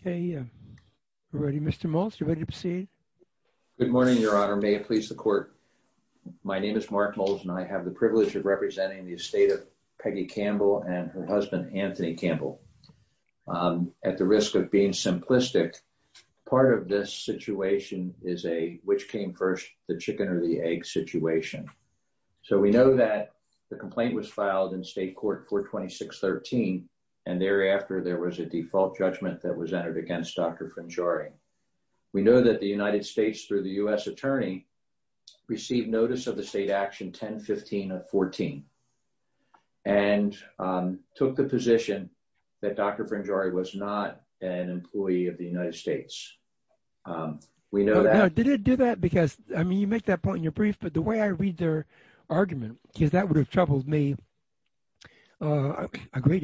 Okay, Mr. Maltz, are you ready to proceed? Good morning, Your Honor. May it please the court. My name is Mark Maltz and I have the privilege of representing the estate of Peggy Campbell and her husband Anthony Campbell. At the risk of being simplistic, part of this situation is a which came first, the chicken or the egg situation. So we know that the complaint was filed in state court 426.13 and thereafter there was a default judgment that was entered against Dr. Frangiore. We know that the United States through the U.S. Attorney received notice of the state action 1015 of 14 and took the position that Dr. Frangiore was not an employee of the United States. We know that. Did it do that because I mean you make that point in your brief but the way I read their argument because that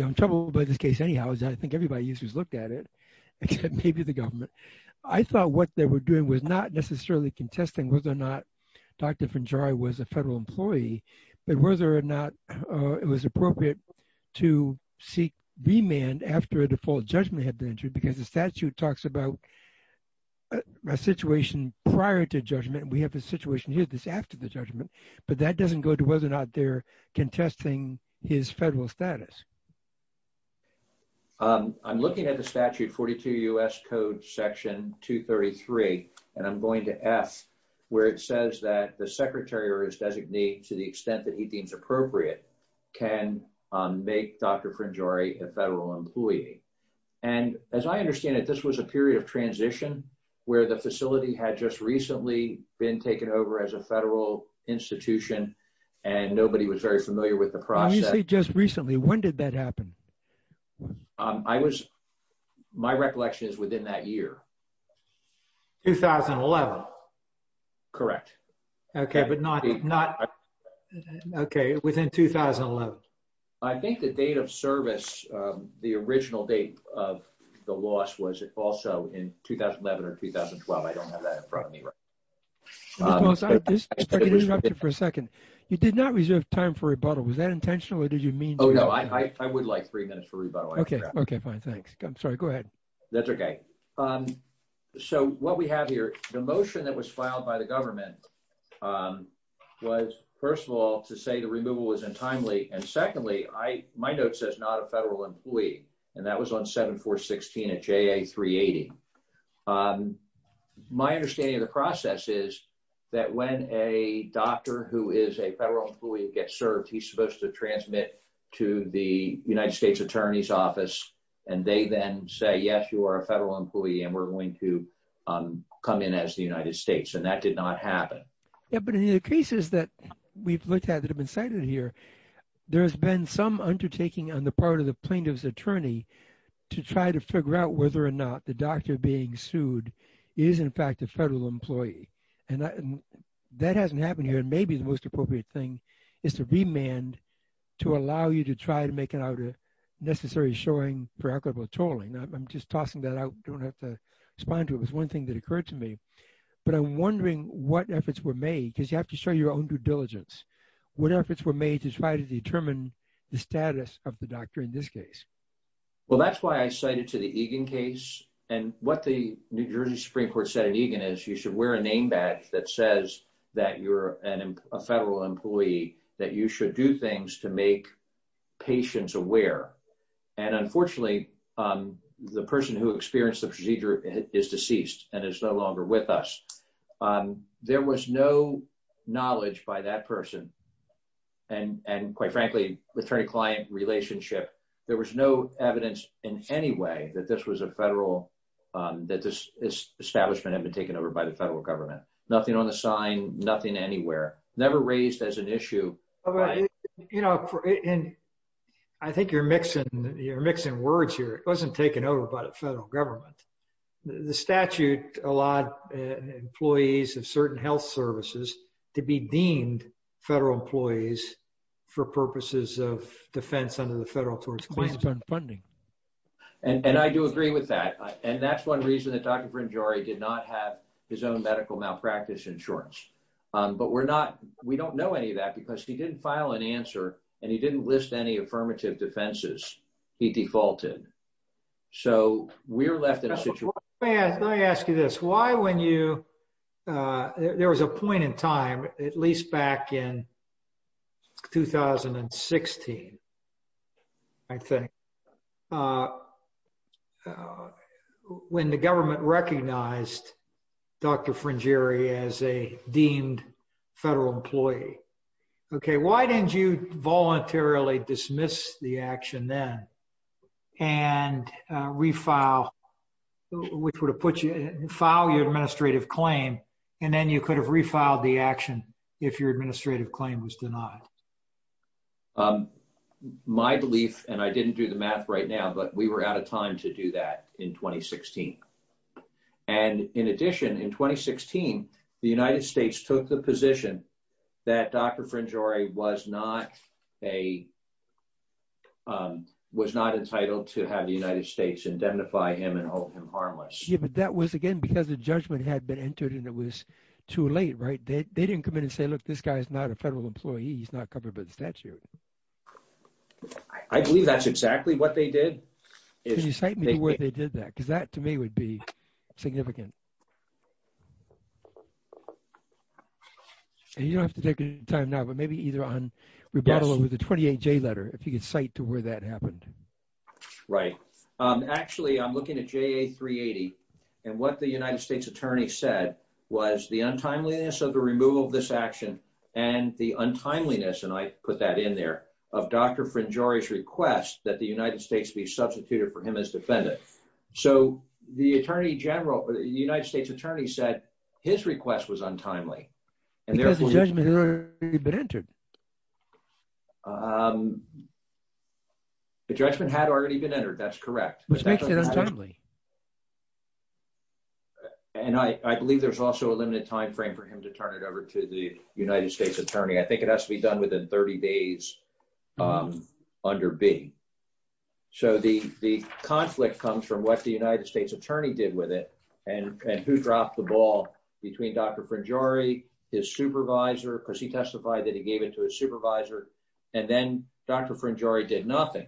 I'm troubled by this case anyhow is I think everybody used to look at it except maybe the government. I thought what they were doing was not necessarily contesting whether or not Dr. Frangiore was a federal employee but whether or not it was appropriate to seek remand after a default judgment had been entered because the statute talks about a situation prior to judgment. We have a situation here that's after the judgment but that doesn't go to whether or not they're contesting his federal status. I'm looking at the statute 42 U.S. Code section 233 and I'm going to ask where it says that the secretary or his designee to the extent that he deems appropriate can make Dr. Frangiore a federal employee and as I understand it this was a period of transition where the facility had just recently been taken over as a federal institution and nobody was very familiar with the process. You say just recently when did that happen? I was my recollection is within that year. 2011. Correct. Okay but not not okay within 2011. I think the date of service the original date of the loss was it also in 2011 or 2012. I don't have that in front of me right now. I just want to interrupt you for a second. You did not reserve time for rebuttal. Was that intentional or did you mean? Oh no I would like three minutes for rebuttal. Okay okay fine thanks. I'm sorry go ahead. That's okay. So what we have here the motion that was filed by the government was first of all to say the removal was untimely and secondly I my note says not a federal employee and that was on 7416 at JA 380. My understanding of the process is that when a doctor who is a federal employee gets served he's supposed to transmit to the United States Attorney's Office and they then say yes you are a federal employee and we're going to come in as the United States and that did not happen. Yeah but in the cases that we've looked at that have been cited here there has been some undertaking on the part of the plaintiff's attorney to try to figure out whether or not the doctor being sued is in fact a federal employee and that hasn't happened here and maybe the most appropriate thing is to remand to allow you to try to make it out a necessary showing for equitable tolling. I'm just tossing that out don't have to respond to it was one thing that occurred to me but I'm wondering what efforts were made because you have to show your own diligence what efforts were made to try to determine the status of the doctor in this case? Well that's why I cited to the Egan case and what the New Jersey Supreme Court said in Egan is you should wear a name badge that says that you're a federal employee that you should do things to make patients aware and unfortunately the person who experienced the procedure is deceased and is no longer with us. There was no knowledge by that person and and quite frankly attorney-client relationship there was no evidence in any way that this was a federal that this establishment had been taken over by the federal government nothing on the sign nothing anywhere never raised as an issue. You know and I think you're mixing you're mixing words here it wasn't taken over by the federal government. The statute allowed employees of certain health services to be deemed federal employees for purposes of defense under the federal towards funding. And I do agree with that and that's one reason that Dr. Frangiore did not have his own medical malpractice insurance but we're not we don't know any of that because he didn't file an answer and he didn't list any I ask you this why when you there was a point in time at least back in 2016 I think when the government recognized Dr. Frangiore as a deemed federal employee okay why didn't you voluntarily dismiss the action then and refile which would have put you file your administrative claim and then you could have refiled the action if your administrative claim was denied. My belief and I didn't do the math right now but we were out of time to do that in 2016 and in addition in that Dr. Frangiore was not a was not entitled to have the United States indemnify him and hold him harmless. Yeah but that was again because the judgment had been entered and it was too late right they didn't come in and say look this guy's not a federal employee he's not covered by the statute. I believe that's exactly what they did. Can you cite me where they did that because that to me would be significant. You don't have to take any time now but maybe either on rebuttal over the 28 J letter if you could cite to where that happened. Right actually I'm looking at JA 380 and what the United States Attorney said was the untimeliness of the removal of this action and the untimeliness and I put that in there of Dr. Frangiore's request that the United States be substituted for him as defendant. So the Attorney General, the United States Attorney said his request was untimely. Because the judgment had already been entered. The judgment had already been entered that's correct. Which makes it untimely. And I believe there's also a limited time frame for him to turn it over to the United States Attorney. I think it has to be done within 30 days under B. So the conflict comes from what the United States Attorney did with it and who dropped the ball between Dr. Frangiore, his supervisor because he testified that he gave it to his supervisor and then Dr. Frangiore did nothing.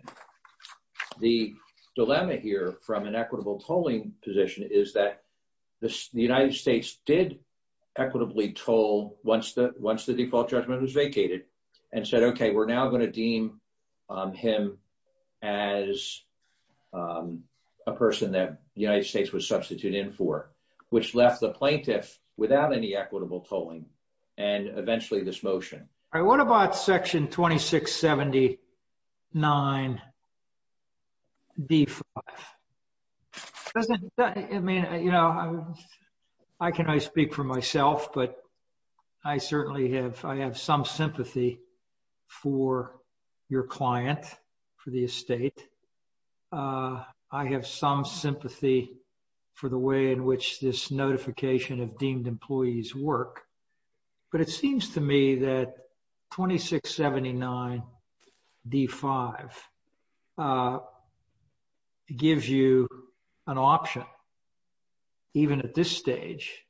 The dilemma here from an equitable tolling position is that the United States did equitably toll once the once the default judgment was vacated and said okay we're now going to deem him as a person that the United States was substituted in for. Which left the plaintiff without any equitable tolling and eventually this motion. All right what about section 2679 D5? I mean you know I can I speak for your client for the estate. I have some sympathy for the way in which this notification of deemed employees work. But it seems to me that 2679 D5 gives you an option even at this stage.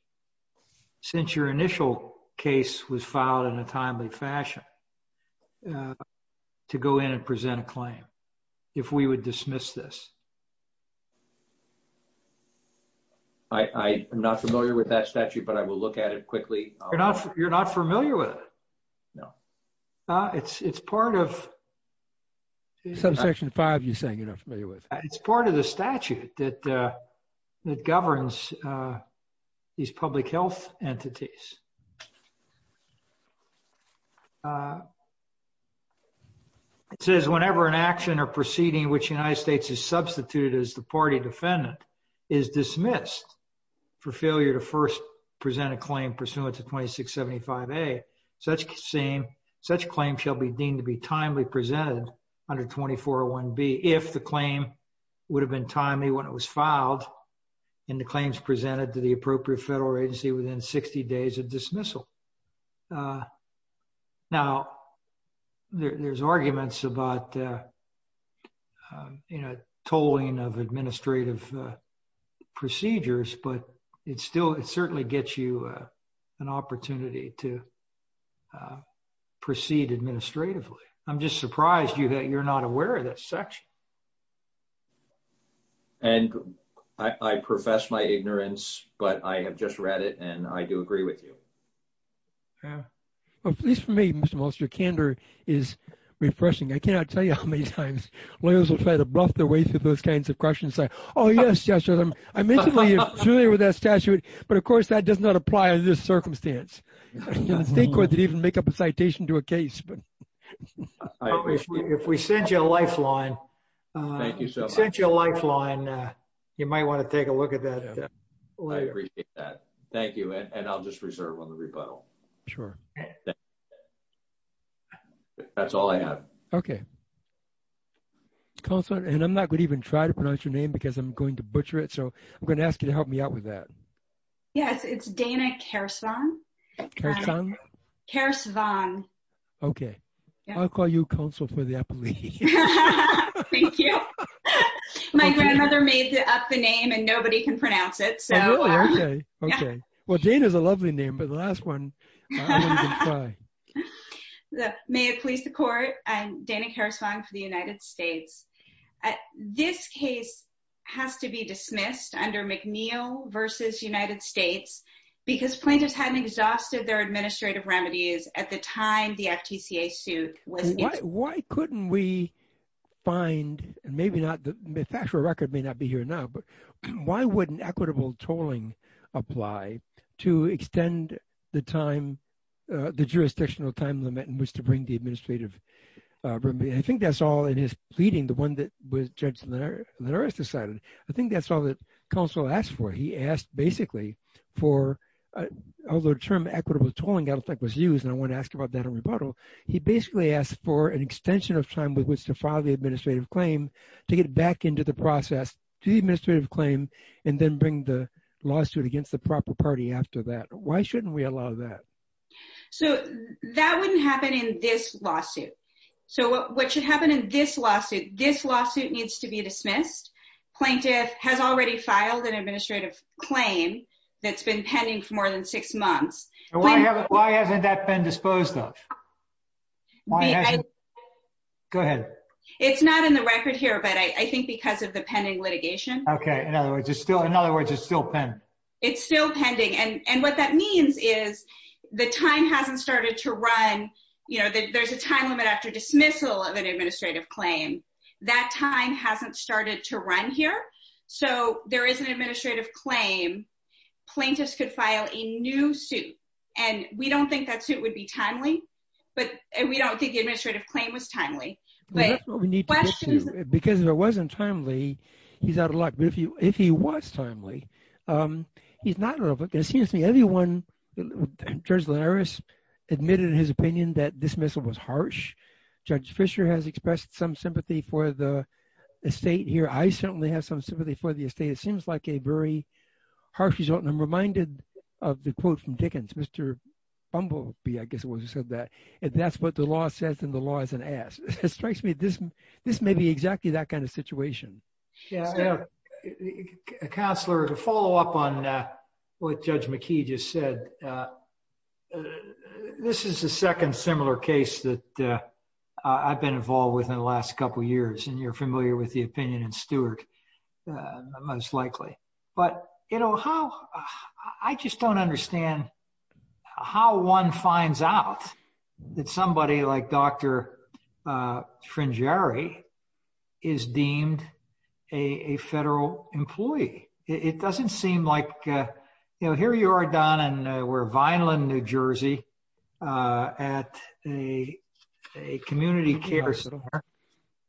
Since your initial case was filed in a timely fashion to go in and present a claim. If we would dismiss this. I am not familiar with that statute but I will look at it quickly. You're not you're not familiar with it? No. It's it's part of. Subsection 5 you're saying you're not familiar with. It's part of the statute that that governs these public health entities. It says whenever an action or proceeding which the United States is substituted as the party defendant is dismissed for failure to first present a claim pursuant to 2675 A. Such same such claim shall be deemed to be timely presented under 2401 B. If the claim would have been timely when it was filed and the claims presented to the appropriate federal agency within 60 days of dismissal. Now there's arguments about you know tolling of administrative procedures but it's still it certainly gets you an opportunity to proceed administratively. I'm just surprised you that you're not aware of that section. And I profess my ignorance but I have just read it and I do agree with you. Yeah well at least for me Mr. Molster candor is refreshing. I cannot tell you how many times lawyers will try to bluff their way through those kinds of questions. Oh yes yes I mentioned we are familiar with that statute but of course that does not apply under this circumstance. The state court did even make up a citation to a case but if we sent you a lifeline you might want to take a look at that. Thank you and I'll just reserve on the rebuttal. Sure that's all I have okay. Counselor and I'm not going to even try to pronounce your name because I'm going to butcher it so I'm going to ask you to help me out with that. Yes it's Dana Kersvon. Okay I'll call you counsel for the appellee. Thank you my grandmother made up the name and I don't even try. May it please the court I'm Dana Kersvon for the United States. This case has to be dismissed under McNeil versus United States because plaintiffs hadn't exhausted their administrative remedies at the time the FTCA suit was. Why couldn't we find and maybe not the factual record may not be here now but why wouldn't equitable tolling apply to extend the time the jurisdictional time limit in which to bring the administrative remedy. I think that's all in his pleading the one that was judge Linares decided. I think that's all that counsel asked for. He asked basically for although the term equitable tolling I don't think was used and I want to ask about that in rebuttal. He basically asked for an extension of time with which to file the administrative claim to get back into the process to the lawsuit against the proper party after that. Why shouldn't we allow that? So that wouldn't happen in this lawsuit. So what should happen in this lawsuit this lawsuit needs to be dismissed. Plaintiff has already filed an administrative claim that's been pending for more than six months. Why hasn't that been disposed of? Go ahead. It's not in the record here but I think because of the pending litigation. Okay in other words it's still in other words it's still pending. It's still pending and and what that means is the time hasn't started to run you know that there's a time limit after dismissal of an administrative claim. That time hasn't started to run here so there is an administrative claim plaintiffs could file a new suit and we don't think that suit would be timely but we don't think the administrative claim was timely. That's what we need to get to because if it wasn't timely he's out of luck but if you if he was timely he's not. It seems to me everyone Judge Linares admitted in his opinion that dismissal was harsh. Judge Fisher has expressed some sympathy for the estate here. I certainly have some sympathy for the estate. It seems like a very harsh result and I'm reminded of the quote from Dickens. Mr. Bumblebee I guess it was who said that if that's what the law says then the law is an ass. It strikes me this this may be exactly that kind of situation. Counselor to follow up on what Judge McKee just said. This is the second similar case that I've been involved with in the last couple years and you're familiar with the opinion and Stewart most likely but you know how I just don't understand how one finds out that somebody like Dr. Frangieri is deemed a federal employee. It doesn't seem like you know here you are Don and we're Vineland New Jersey at a community care center.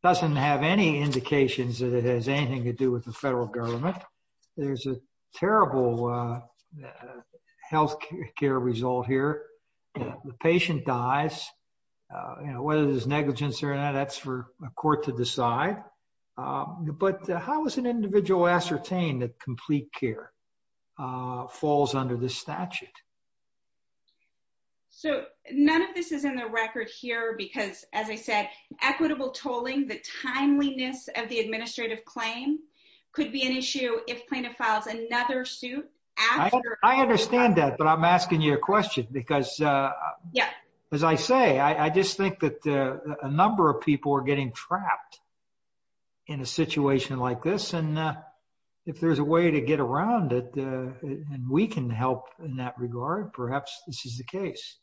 Doesn't have any indications that it has anything to do with the federal government. There's a terrible health care result here. The patient dies you know whether there's negligence or not that's for a court to decide but how is an individual ascertained that complete care falls under this statute? So none of this is in the record here because as I said equitable tolling the timeliness of the administrative claim could be an issue if plaintiff files another suit. I understand that but I'm asking you a question because as I say I just think that a number of people are getting trapped in a situation like this and if there's a way to get around it and we can help in that regard perhaps this is the case.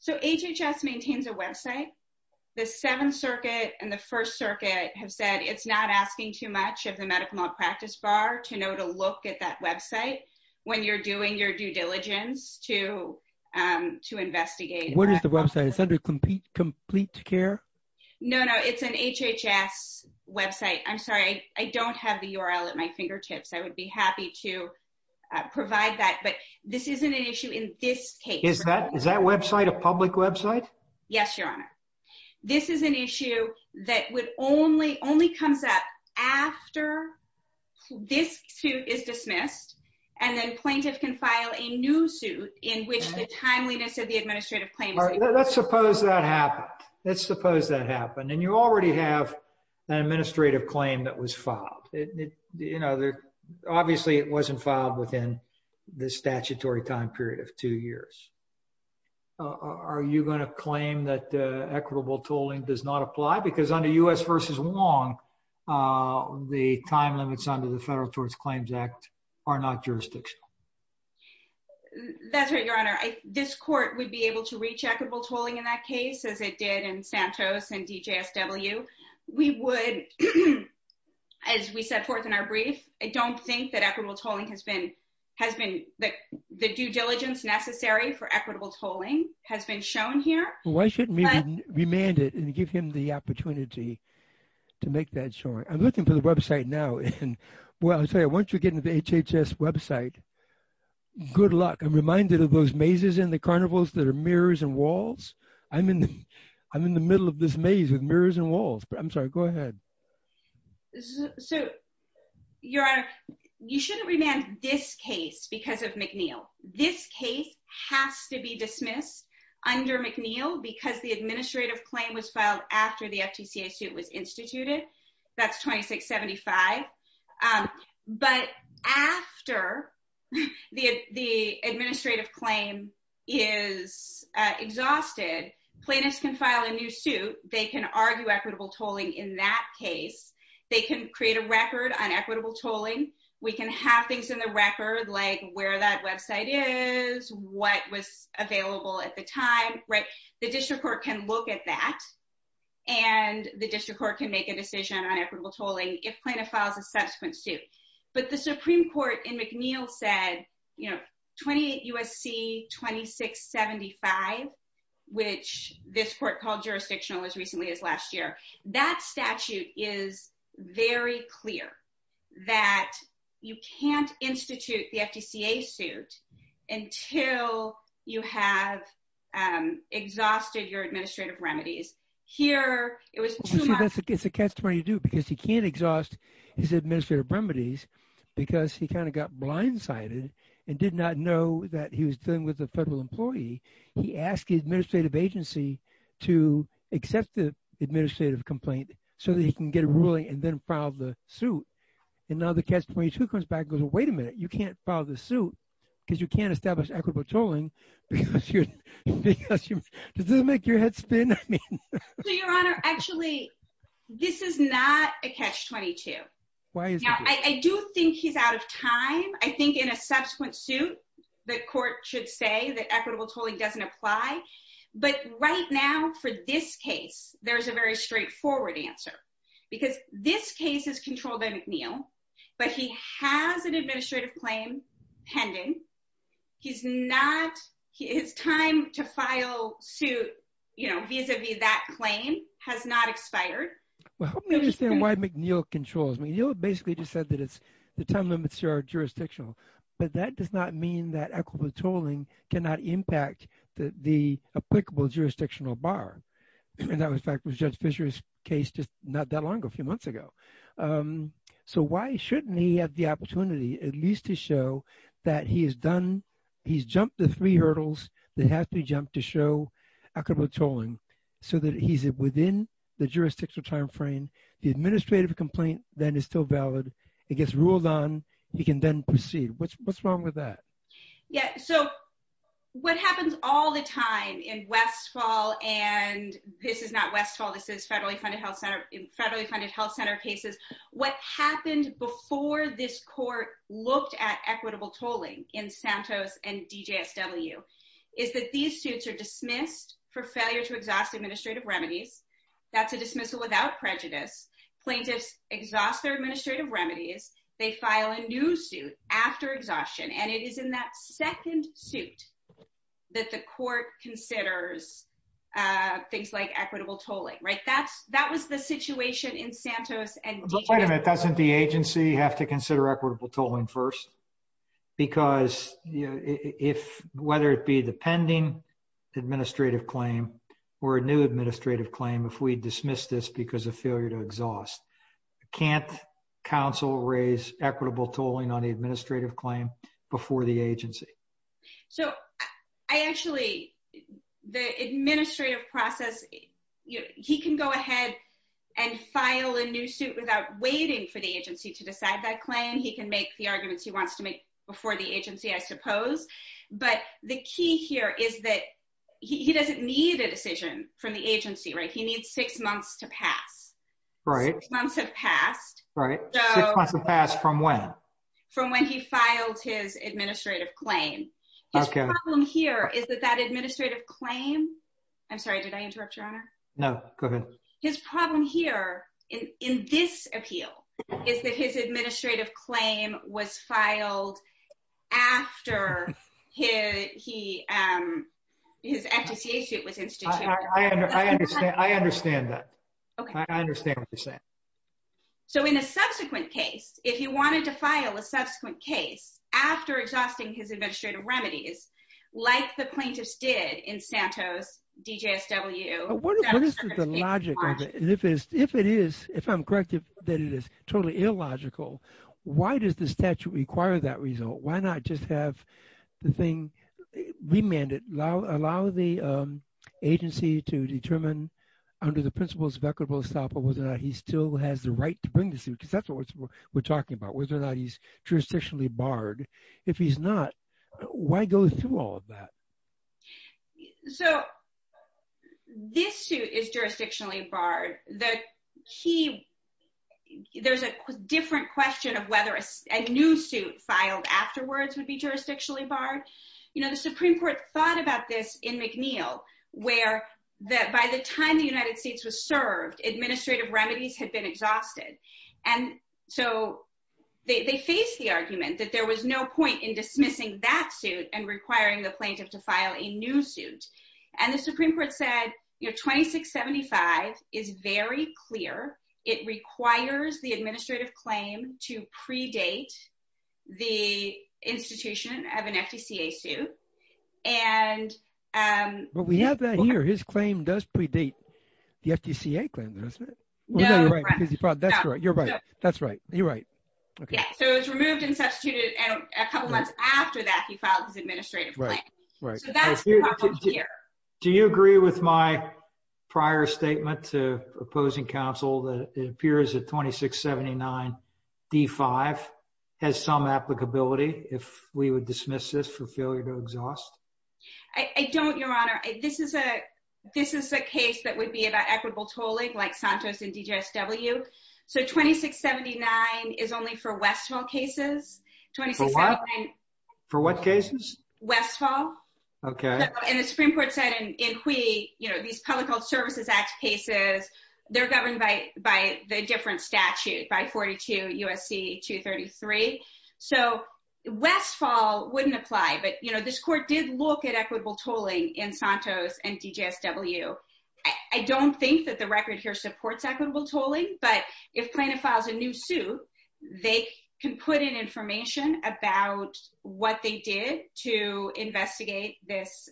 So HHS maintains a website the seventh circuit and the first circuit have said it's not asking too much of the medical malpractice bar to know to look at that website when you're doing your due diligence to to investigate. What is the website? Is that a complete complete care? No no it's an HHS website. I'm sorry I don't have the URL at my fingertips. I would be happy to provide that but this isn't an issue in this case. Is that is that website a public website? Yes your honor. This is an issue that would only only comes up after this suit is dismissed and then plaintiff can file a new suit in which the timeliness of the administrative claim. Let's suppose that happened. Let's suppose that happened and you already have an administrative claim that was filed. You know there obviously it wasn't filed within the statutory time period of two years. Are you going to claim that equitable tolling does not apply because under U.S. versus Wong the time limits under the Federal Tort Claims Act are not jurisdictional? That's right your honor. This court would be able to reach equitable tolling in that case as it did in Santos and DJSW. We would as we set forth in our brief. I don't think that equitable tolling has been has been that the due diligence necessary for equitable tolling has been shown here. Why shouldn't we remand it and give him the opportunity to make that sure? I'm looking for the website now and well I'll tell you once you get into the HHS website good luck. I'm reminded of those mazes in the carnivals that are mirrors and walls. I'm in I'm in the middle of this maze with mirrors and walls but I'm sorry go ahead. This is so your honor you shouldn't remand this case because of McNeil. This case has to be dismissed under McNeil because the administrative claim was filed after the FTCA suit was instituted that's 2675. But after the the administrative claim is exhausted plaintiffs can file a new they can argue equitable tolling in that case. They can create a record on equitable tolling. We can have things in the record like where that website is what was available at the time right. The district court can look at that and the district court can make a decision on equitable tolling if plaintiff files a subsequent suit. But the supreme court in McNeil said you know 28 USC 2675 which this court called jurisdictional as recently as last year. That statute is very clear that you can't institute the FTCA suit until you have exhausted your administrative remedies. Here it was it's a testimony to do because he can't exhaust his administrative remedies because he kind of got blindsided and did not know that he was dealing with a federal employee. He asked the administrative agency to accept the administrative complaint so that he can get a ruling and then file the suit. And now the catch-22 comes back goes wait a minute you can't file the suit because you can't establish equitable tolling because you're because you this doesn't make your head spin. I mean so your honor actually this is not a catch-22. Now I do think he's out of time. I think in a subsequent suit the court should say that equitable tolling doesn't apply. But right now for this case there's a very straightforward answer because this case is controlled by McNeil but he has an administrative claim pending. He's not his time to file suit you know vis-a-vis that claim has not expired. Well help me understand why McNeil controls. McNeil basically just said that it's the time limits are jurisdictional but that does not mean that equitable tolling cannot impact the applicable jurisdictional bar. And that was in fact was Judge Fisher's case just not that long ago a few months ago. So why shouldn't he have the opportunity at least to show that he has done he's jumped the three hurdles that has to be jumped to show equitable tolling so that he's within the jurisdictional time frame the administrative complaint then is still valid it gets ruled on he can then proceed. What's what's wrong with that? Yeah so what happens all the time in Westfall and this is not Westfall this is federally funded health center federally funded health center cases. What happened before this court looked at equitable tolling in Santos and DJSW is that these suits are dismissed for failure to exhaust administrative remedies that's a dismissal without prejudice plaintiffs exhaust their administrative remedies they file a new suit after exhaustion and it is in that second suit that the court considers things like equitable tolling right that's that was the situation in first because if whether it be the pending administrative claim or a new administrative claim if we dismiss this because of failure to exhaust can't counsel raise equitable tolling on the administrative claim before the agency. So I actually the administrative process he can go ahead and file a new suit without waiting for the agency to decide that claim he can make the arguments he wants to make before the agency I suppose but the key here is that he doesn't need a decision from the agency right he needs six months to pass right months have passed right six months have passed from when from when he filed his administrative claim his problem here is that that administrative claim I'm sorry did I interrupt no go ahead his problem here in in this appeal is that his administrative claim was filed after he um his FTCA suit was instituted I understand I understand that okay I understand what you're saying so in a subsequent case if you wanted to file a subsequent case after exhausting his what is the logic of it if it's if it is if I'm correct if that it is totally illogical why does the statute require that result why not just have the thing remanded allow allow the agency to determine under the principles of equitable estoppel whether or not he still has the right to bring the suit because that's what we're talking about whether or not he's barred if he's not why go through all of that so this suit is jurisdictionally barred the key there's a different question of whether a new suit filed afterwards would be jurisdictionally barred you know the supreme court thought about this in McNeil where that by the time the United States was served administrative remedies had been exhausted and so they faced the argument that there was no point in dismissing that suit and requiring the plaintiff to file a new suit and the supreme court said you know 2675 is very clear it requires the administrative claim to predate the institution of an FTCA suit and um but we have that here his claim does predate the FTCA claim isn't it no you're right that's right you're right that's right you're right okay so it was removed and substituted and a couple months after that he filed his administrative right right so that's your problem here do you agree with my prior statement to opposing council that it appears that 2679 d5 has some applicability if we would dismiss this for failure to exhaust I don't your honor this is a this is a case that would be about equitable tolling like Santos and DGSW so 2679 is only for westfall cases for what for what cases westfall okay and the supreme court said and we you know these public health services act cases they're governed by by the different statute by 42 USC 233 so westfall wouldn't apply but you know this court did look at equitable tolling in Santos and DGSW I don't think that the record here supports equitable tolling but if plaintiff files a new suit they can put in information about what they did to investigate this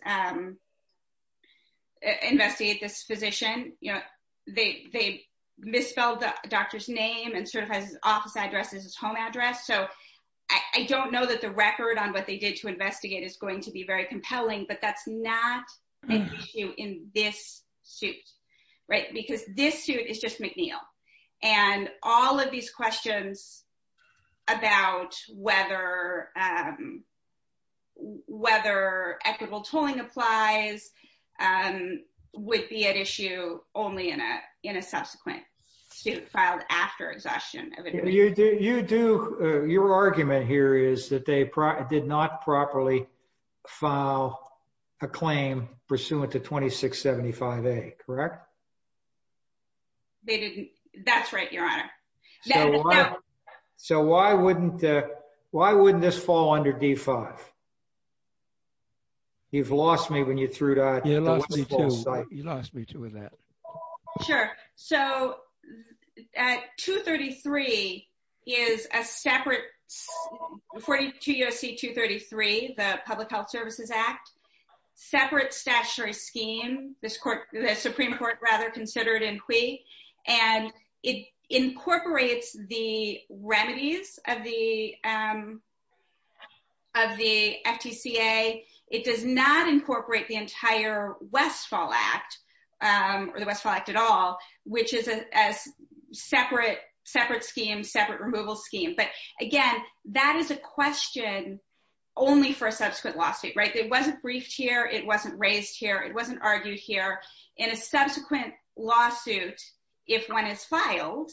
investigate this physician you know they they misspelled the doctor's name and certifies his office address is his home address so I don't know that the record on what they did to investigate is going to be very compelling but that's not an issue in this suit right because this suit is just McNeil and all of these questions about whether whether equitable tolling applies would be at issue only in a in a subsequent suit filed after exhaustion you do your argument here is that they did not properly file a claim pursuant to 2675a correct they didn't that's right your honor so why wouldn't why wouldn't this fall under d5 you've lost me when you threw that you lost me too you lost me too with that sure so at 233 is a separate 42 USC 233 the public health services act separate statutory scheme this the supreme court rather considered in quay and it incorporates the remedies of the of the FTCA it does not incorporate the entire westfall act or the westfall act at all which is a as separate separate scheme separate removal scheme but again that is a question only for a in a subsequent lawsuit if one is filed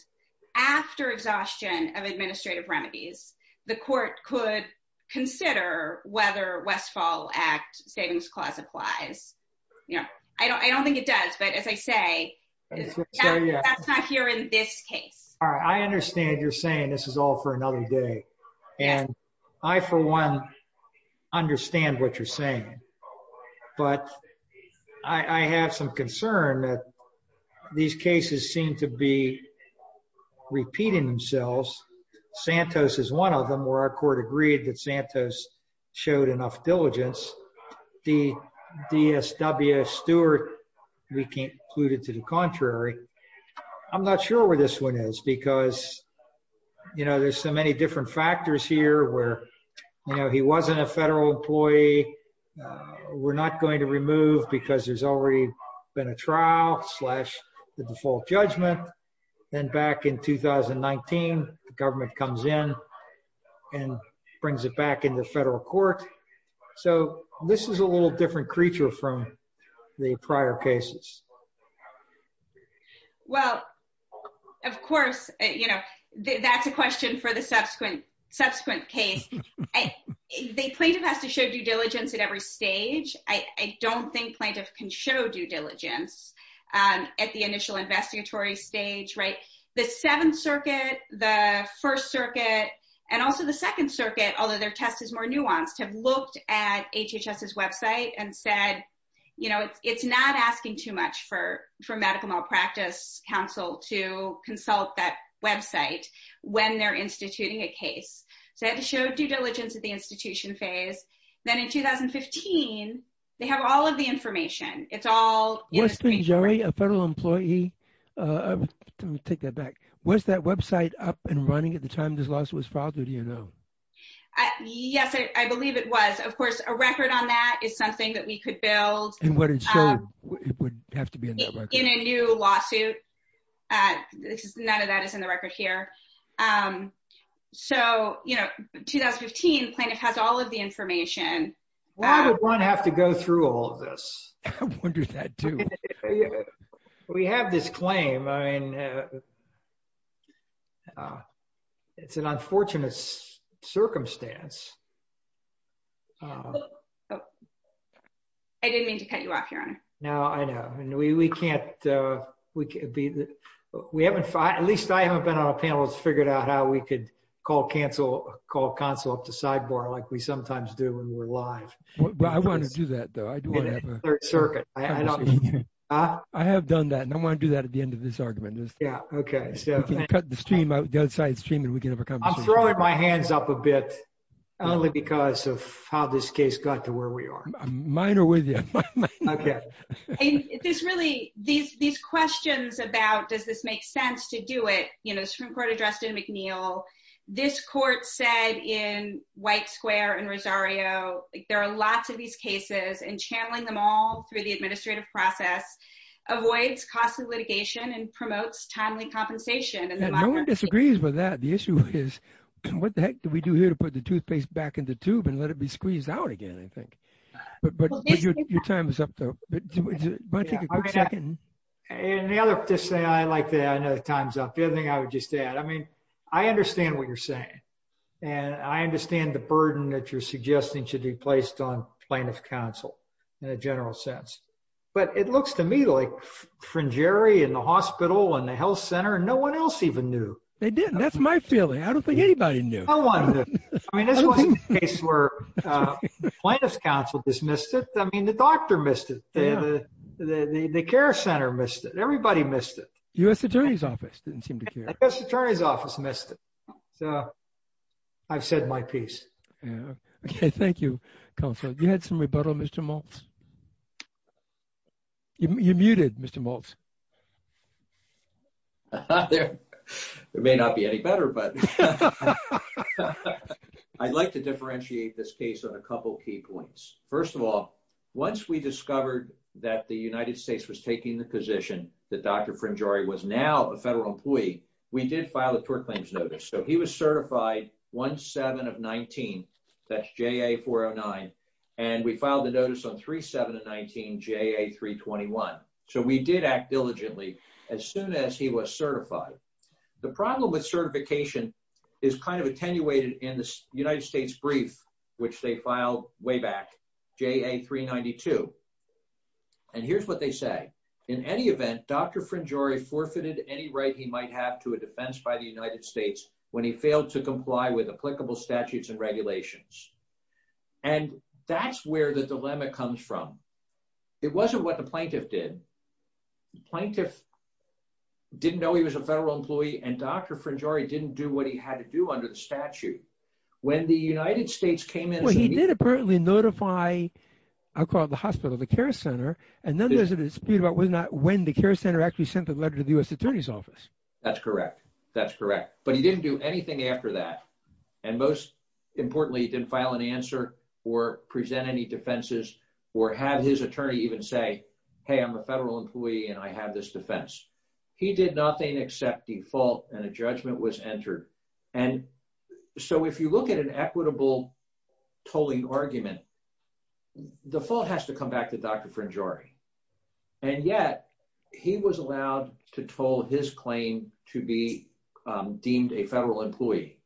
after exhaustion of administrative remedies the court could consider whether westfall act savings clause applies you know I don't I don't think it does but as I say that's not here in this case all right I understand you're saying this is all for another concern that these cases seem to be repeating themselves Santos is one of them where our court agreed that Santos showed enough diligence the DSWS Stewart we concluded to the contrary I'm not sure where this one is because you know there's so many different factors here where you know he wasn't a federal employee we're not going to remove because there's already been a trial slash the default judgment then back in 2019 the government comes in and brings it back into federal court so this is a little different creature from the prior cases well of course you know that's a question for the subsequent subsequent case the plaintiff has to show due diligence at every stage I don't think plaintiff can show due diligence at the initial investigatory stage right the seventh circuit the first circuit and also the second circuit although their test is more nuanced have looked at HHS's website and said you know it's not asking too much for for medical malpractice council to consult that website when they're instituting a case so I had to show due diligence at the institution phase then in 2015 they have all of the information it's all what's been jury a federal employee uh let me take that back where's that website up and running at the time this lawsuit was filed or do you know uh yes I believe it was of course a record on that is something that we could build and what it showed it would have to be in a new lawsuit uh this is none of that is in the record here um so you know 2015 plaintiff has all of the information why would one have to go through all this I wonder that too we have this claim I mean uh uh it's an unfortunate circumstance oh I didn't mean to cut you off your honor no I know and we we can't uh we can't be we haven't at least I haven't been on a panel that's figured out how we could call cancel call console up to sidebar like we sometimes do when we're live well I want to do that though I do want to have a third circuit I don't uh I have done that and I want to do that at the end of this argument just yeah okay so you can cut the stream out the other side stream and we can have a conversation I'm throwing my hands up a bit only because of how this case got to where we are mine are with you okay and this really these these questions about does this make sense to do it you know Supreme Court addressed in McNeil this court said in square and Rosario there are lots of these cases and channeling them all through the administrative process avoids cost of litigation and promotes timely compensation and no one disagrees with that the issue is what the heck do we do here to put the toothpaste back in the tube and let it be squeezed out again I think but but your time is up though and the other just say I like that I know the time's up the other thing I would just add I mean I understand what you're saying and I understand the burden that you're suggesting should be placed on plaintiff counsel in a general sense but it looks to me like fringery in the hospital and the health center and no one else even knew they didn't that's my feeling I don't think anybody knew no one I mean this wasn't a case where plaintiff's counsel dismissed it I mean the doctor missed it the care center missed it everybody missed it U.S. attorney's office didn't seem to care U.S. attorney's office missed it so I've said my piece yeah okay thank you counsel you had some rebuttal Mr. Maltz you muted Mr. Maltz there may not be any better but I'd like to differentiate this case on a couple key points first of all once we discovered that the United States was taking the position that Dr. Fringeri was now a federal employee we did file a tort claims notice so he was certified 17 of 19 that's JA 409 and we filed the notice on 37 of 19 JA 321 so we did act diligently as soon as he was certified the problem with certification is kind of attenuated in the United States brief which they filed way back JA 392 and here's what they say in any event Dr. Fringeri forfeited any right he might have to a defense by the United States when he failed to comply with applicable statutes and regulations and that's where the dilemma comes from it wasn't what the plaintiff did the plaintiff didn't know he was a federal employee and Dr. Fringeri didn't do what he had to do under the care center and then there's a dispute about whether or not when the care center actually sent the letter to the U.S. attorney's office that's correct that's correct but he didn't do anything after that and most importantly he didn't file an answer or present any defenses or have his attorney even say hey I'm a federal employee and I have this defense he did nothing except default and a judgment was entered and so if you look at an equitable tolling argument the fault has to come back to Dr. Fringeri and yet he was allowed to toll his claim to be deemed a federal employee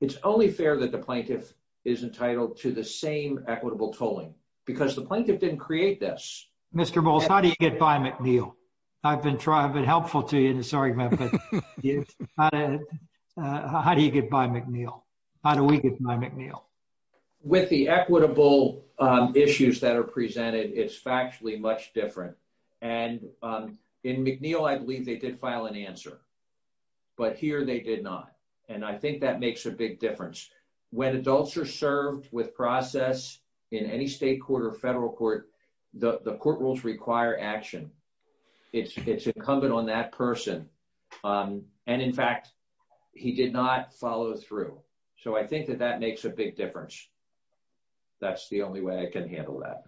it's only fair that the plaintiff is entitled to the same equitable tolling because the plaintiff didn't create this Mr. Bowles how do you get by McNeil I've been trying I've been helpful to you in this argument but how do you get by McNeil how do we get by McNeil with the equitable issues that are presented it's factually much different and in McNeil I believe they did file an answer but here they did not and I think that makes a big difference when adults are served with process in any state federal court the court rules require action it's incumbent on that person and in fact he did not follow through so I think that that makes a big difference that's the only way I can handle that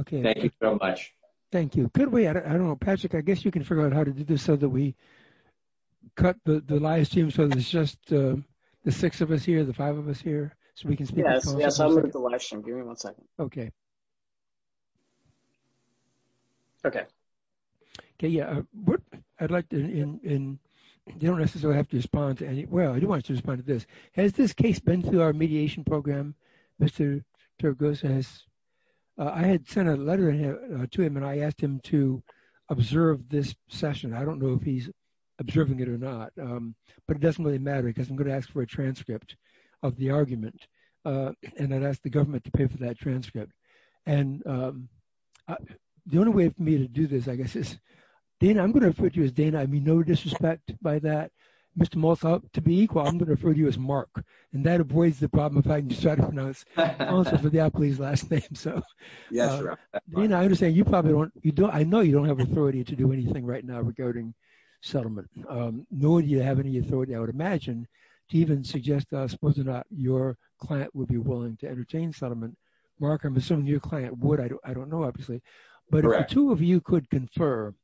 okay thank you so much thank you could we I don't know Patrick I guess you can figure out how to do this so that we cut the the live stream so it's just the six of us here the five of us here so we can speak yes yes I'll look at the live stream give me one second okay okay okay yeah what I'd like to in you don't necessarily have to respond to any well I do want you to respond to this has this case been through our mediation program Mr. Turgos has I had sent a letter to him and I asked him to observe this session I don't know if he's observing it or not but it doesn't really matter because I'm gonna ask for a transcript of the argument and then ask the government to pay for that transcript and the only way for me to do this I guess is Dana I'm going to refer to you as Dana I mean no disrespect by that Mr. Mosel to be equal I'm going to refer to you as Mark and that avoids the problem if I can just try to pronounce answer for the apologies last name so yeah sure you know I understand you probably don't you don't I know you don't have authority to do anything right now regarding settlement nor do you have any authority I would imagine to even suggest us whether or not your client would be willing to entertain settlement mark I'm assuming your client would I don't know obviously but two of you could confer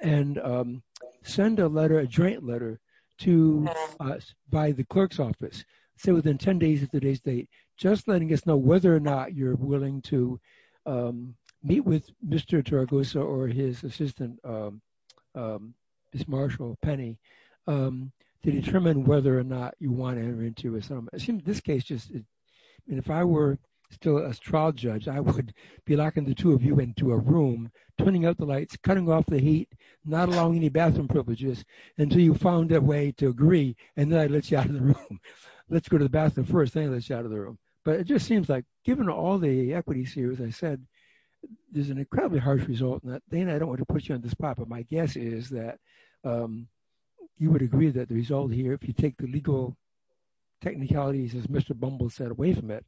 and send a letter a joint letter to us by the clerk's office say within 10 days of today's date just letting us know whether or not you're willing to meet with Mr. Tarragosa or his assistant Ms. Marshall Penny to determine whether or not you want to enter into a settlement I assume this case just and if I were still a trial judge I would be locking the two of you into a room turning out the lights cutting off the heat not allowing any bathroom privileges until you found a way to agree and then I let you out of the room let's go to the bathroom first thing let's get out of the room but it just seems like given all the equities here as I said there's an incredibly harsh result in that Dana I don't want to put you on the spot but my guess is that you would agree that the result here if you take the legal technicalities as Mr. Bumble said away from it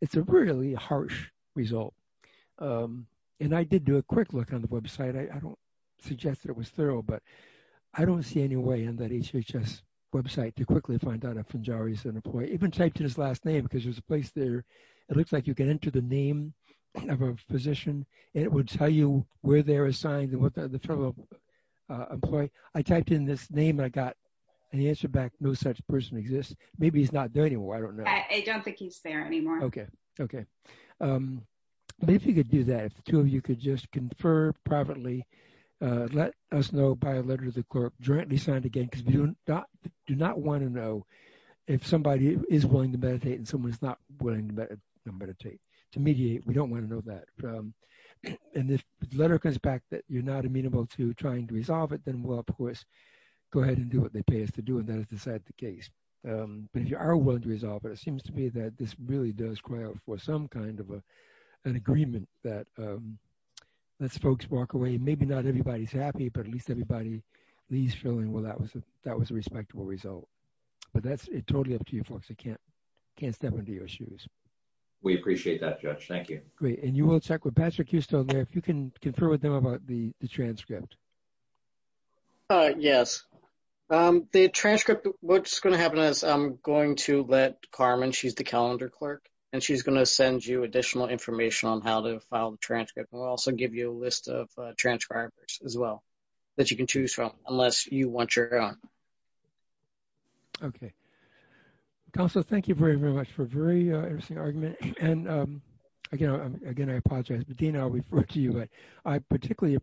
it's a really harsh result and I did do a quick look on the website I don't suggest that it was thorough but I don't see any way in that HHS website to quickly find out if Njari is an employee even typed in his last name because there's a place there it looks like you can enter the name of a physician and it would tell you where they're assigned and what the fellow employee I typed in this name I got and he answered back no such person exists maybe he's not there anymore I don't know I don't think he's there anymore okay okay but if you could do that if the two of you could just confer privately let us know by a letter to the clerk jointly signed again because we do not do not want to know if somebody is willing to meditate and someone's not willing to meditate to mediate we don't want to know that and if the letter comes back that you're not amenable to trying to resolve it then we'll of course go ahead and do what they pay us to do and then decide the case but if you are willing to resolve it it seems to me that this really does cry out for some kind of a an agreement that let's folks walk away maybe not everybody's happy but at least everybody leaves feeling well that was a respectable result but that's it totally up to you folks I can't step into your shoes we appreciate that judge thank you great and you will check with Patrick Houston there if you can confer with them about the transcript yes the transcript what's going to happen is I'm going to let Carmen she's the calendar clerk and she's going to send you additional information on how to file the transcript we'll also give you a list of transcribers as well that you can choose from unless you want your own okay council thank you very very much for a very interesting argument and again again I apologize but then I'll refer to you but I particularly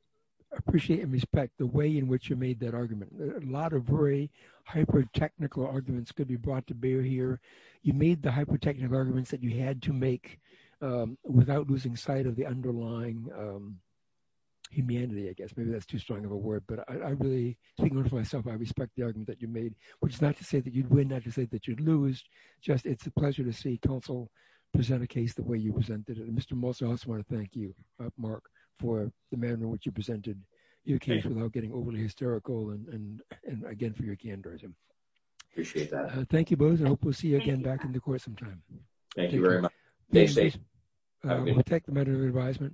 appreciate and respect the way in which you made that argument a lot of very hyper technical arguments could be brought to bear here you made the hyper technical arguments that you had to make without losing sight of the underlying humanity I guess maybe that's too strong of a word but I really think for myself I respect the argument that you made which is not to say that you'd win not to say that you'd lose just it's a pleasure to see council present a case the way you presented it Mr. Molson also want to thank you Mark for the manner in which you presented your case without getting overly hysterical and and again for your candorism appreciate that thank you both I hope we'll see you again back in the course of time thank you very much we'll take the matter of advisement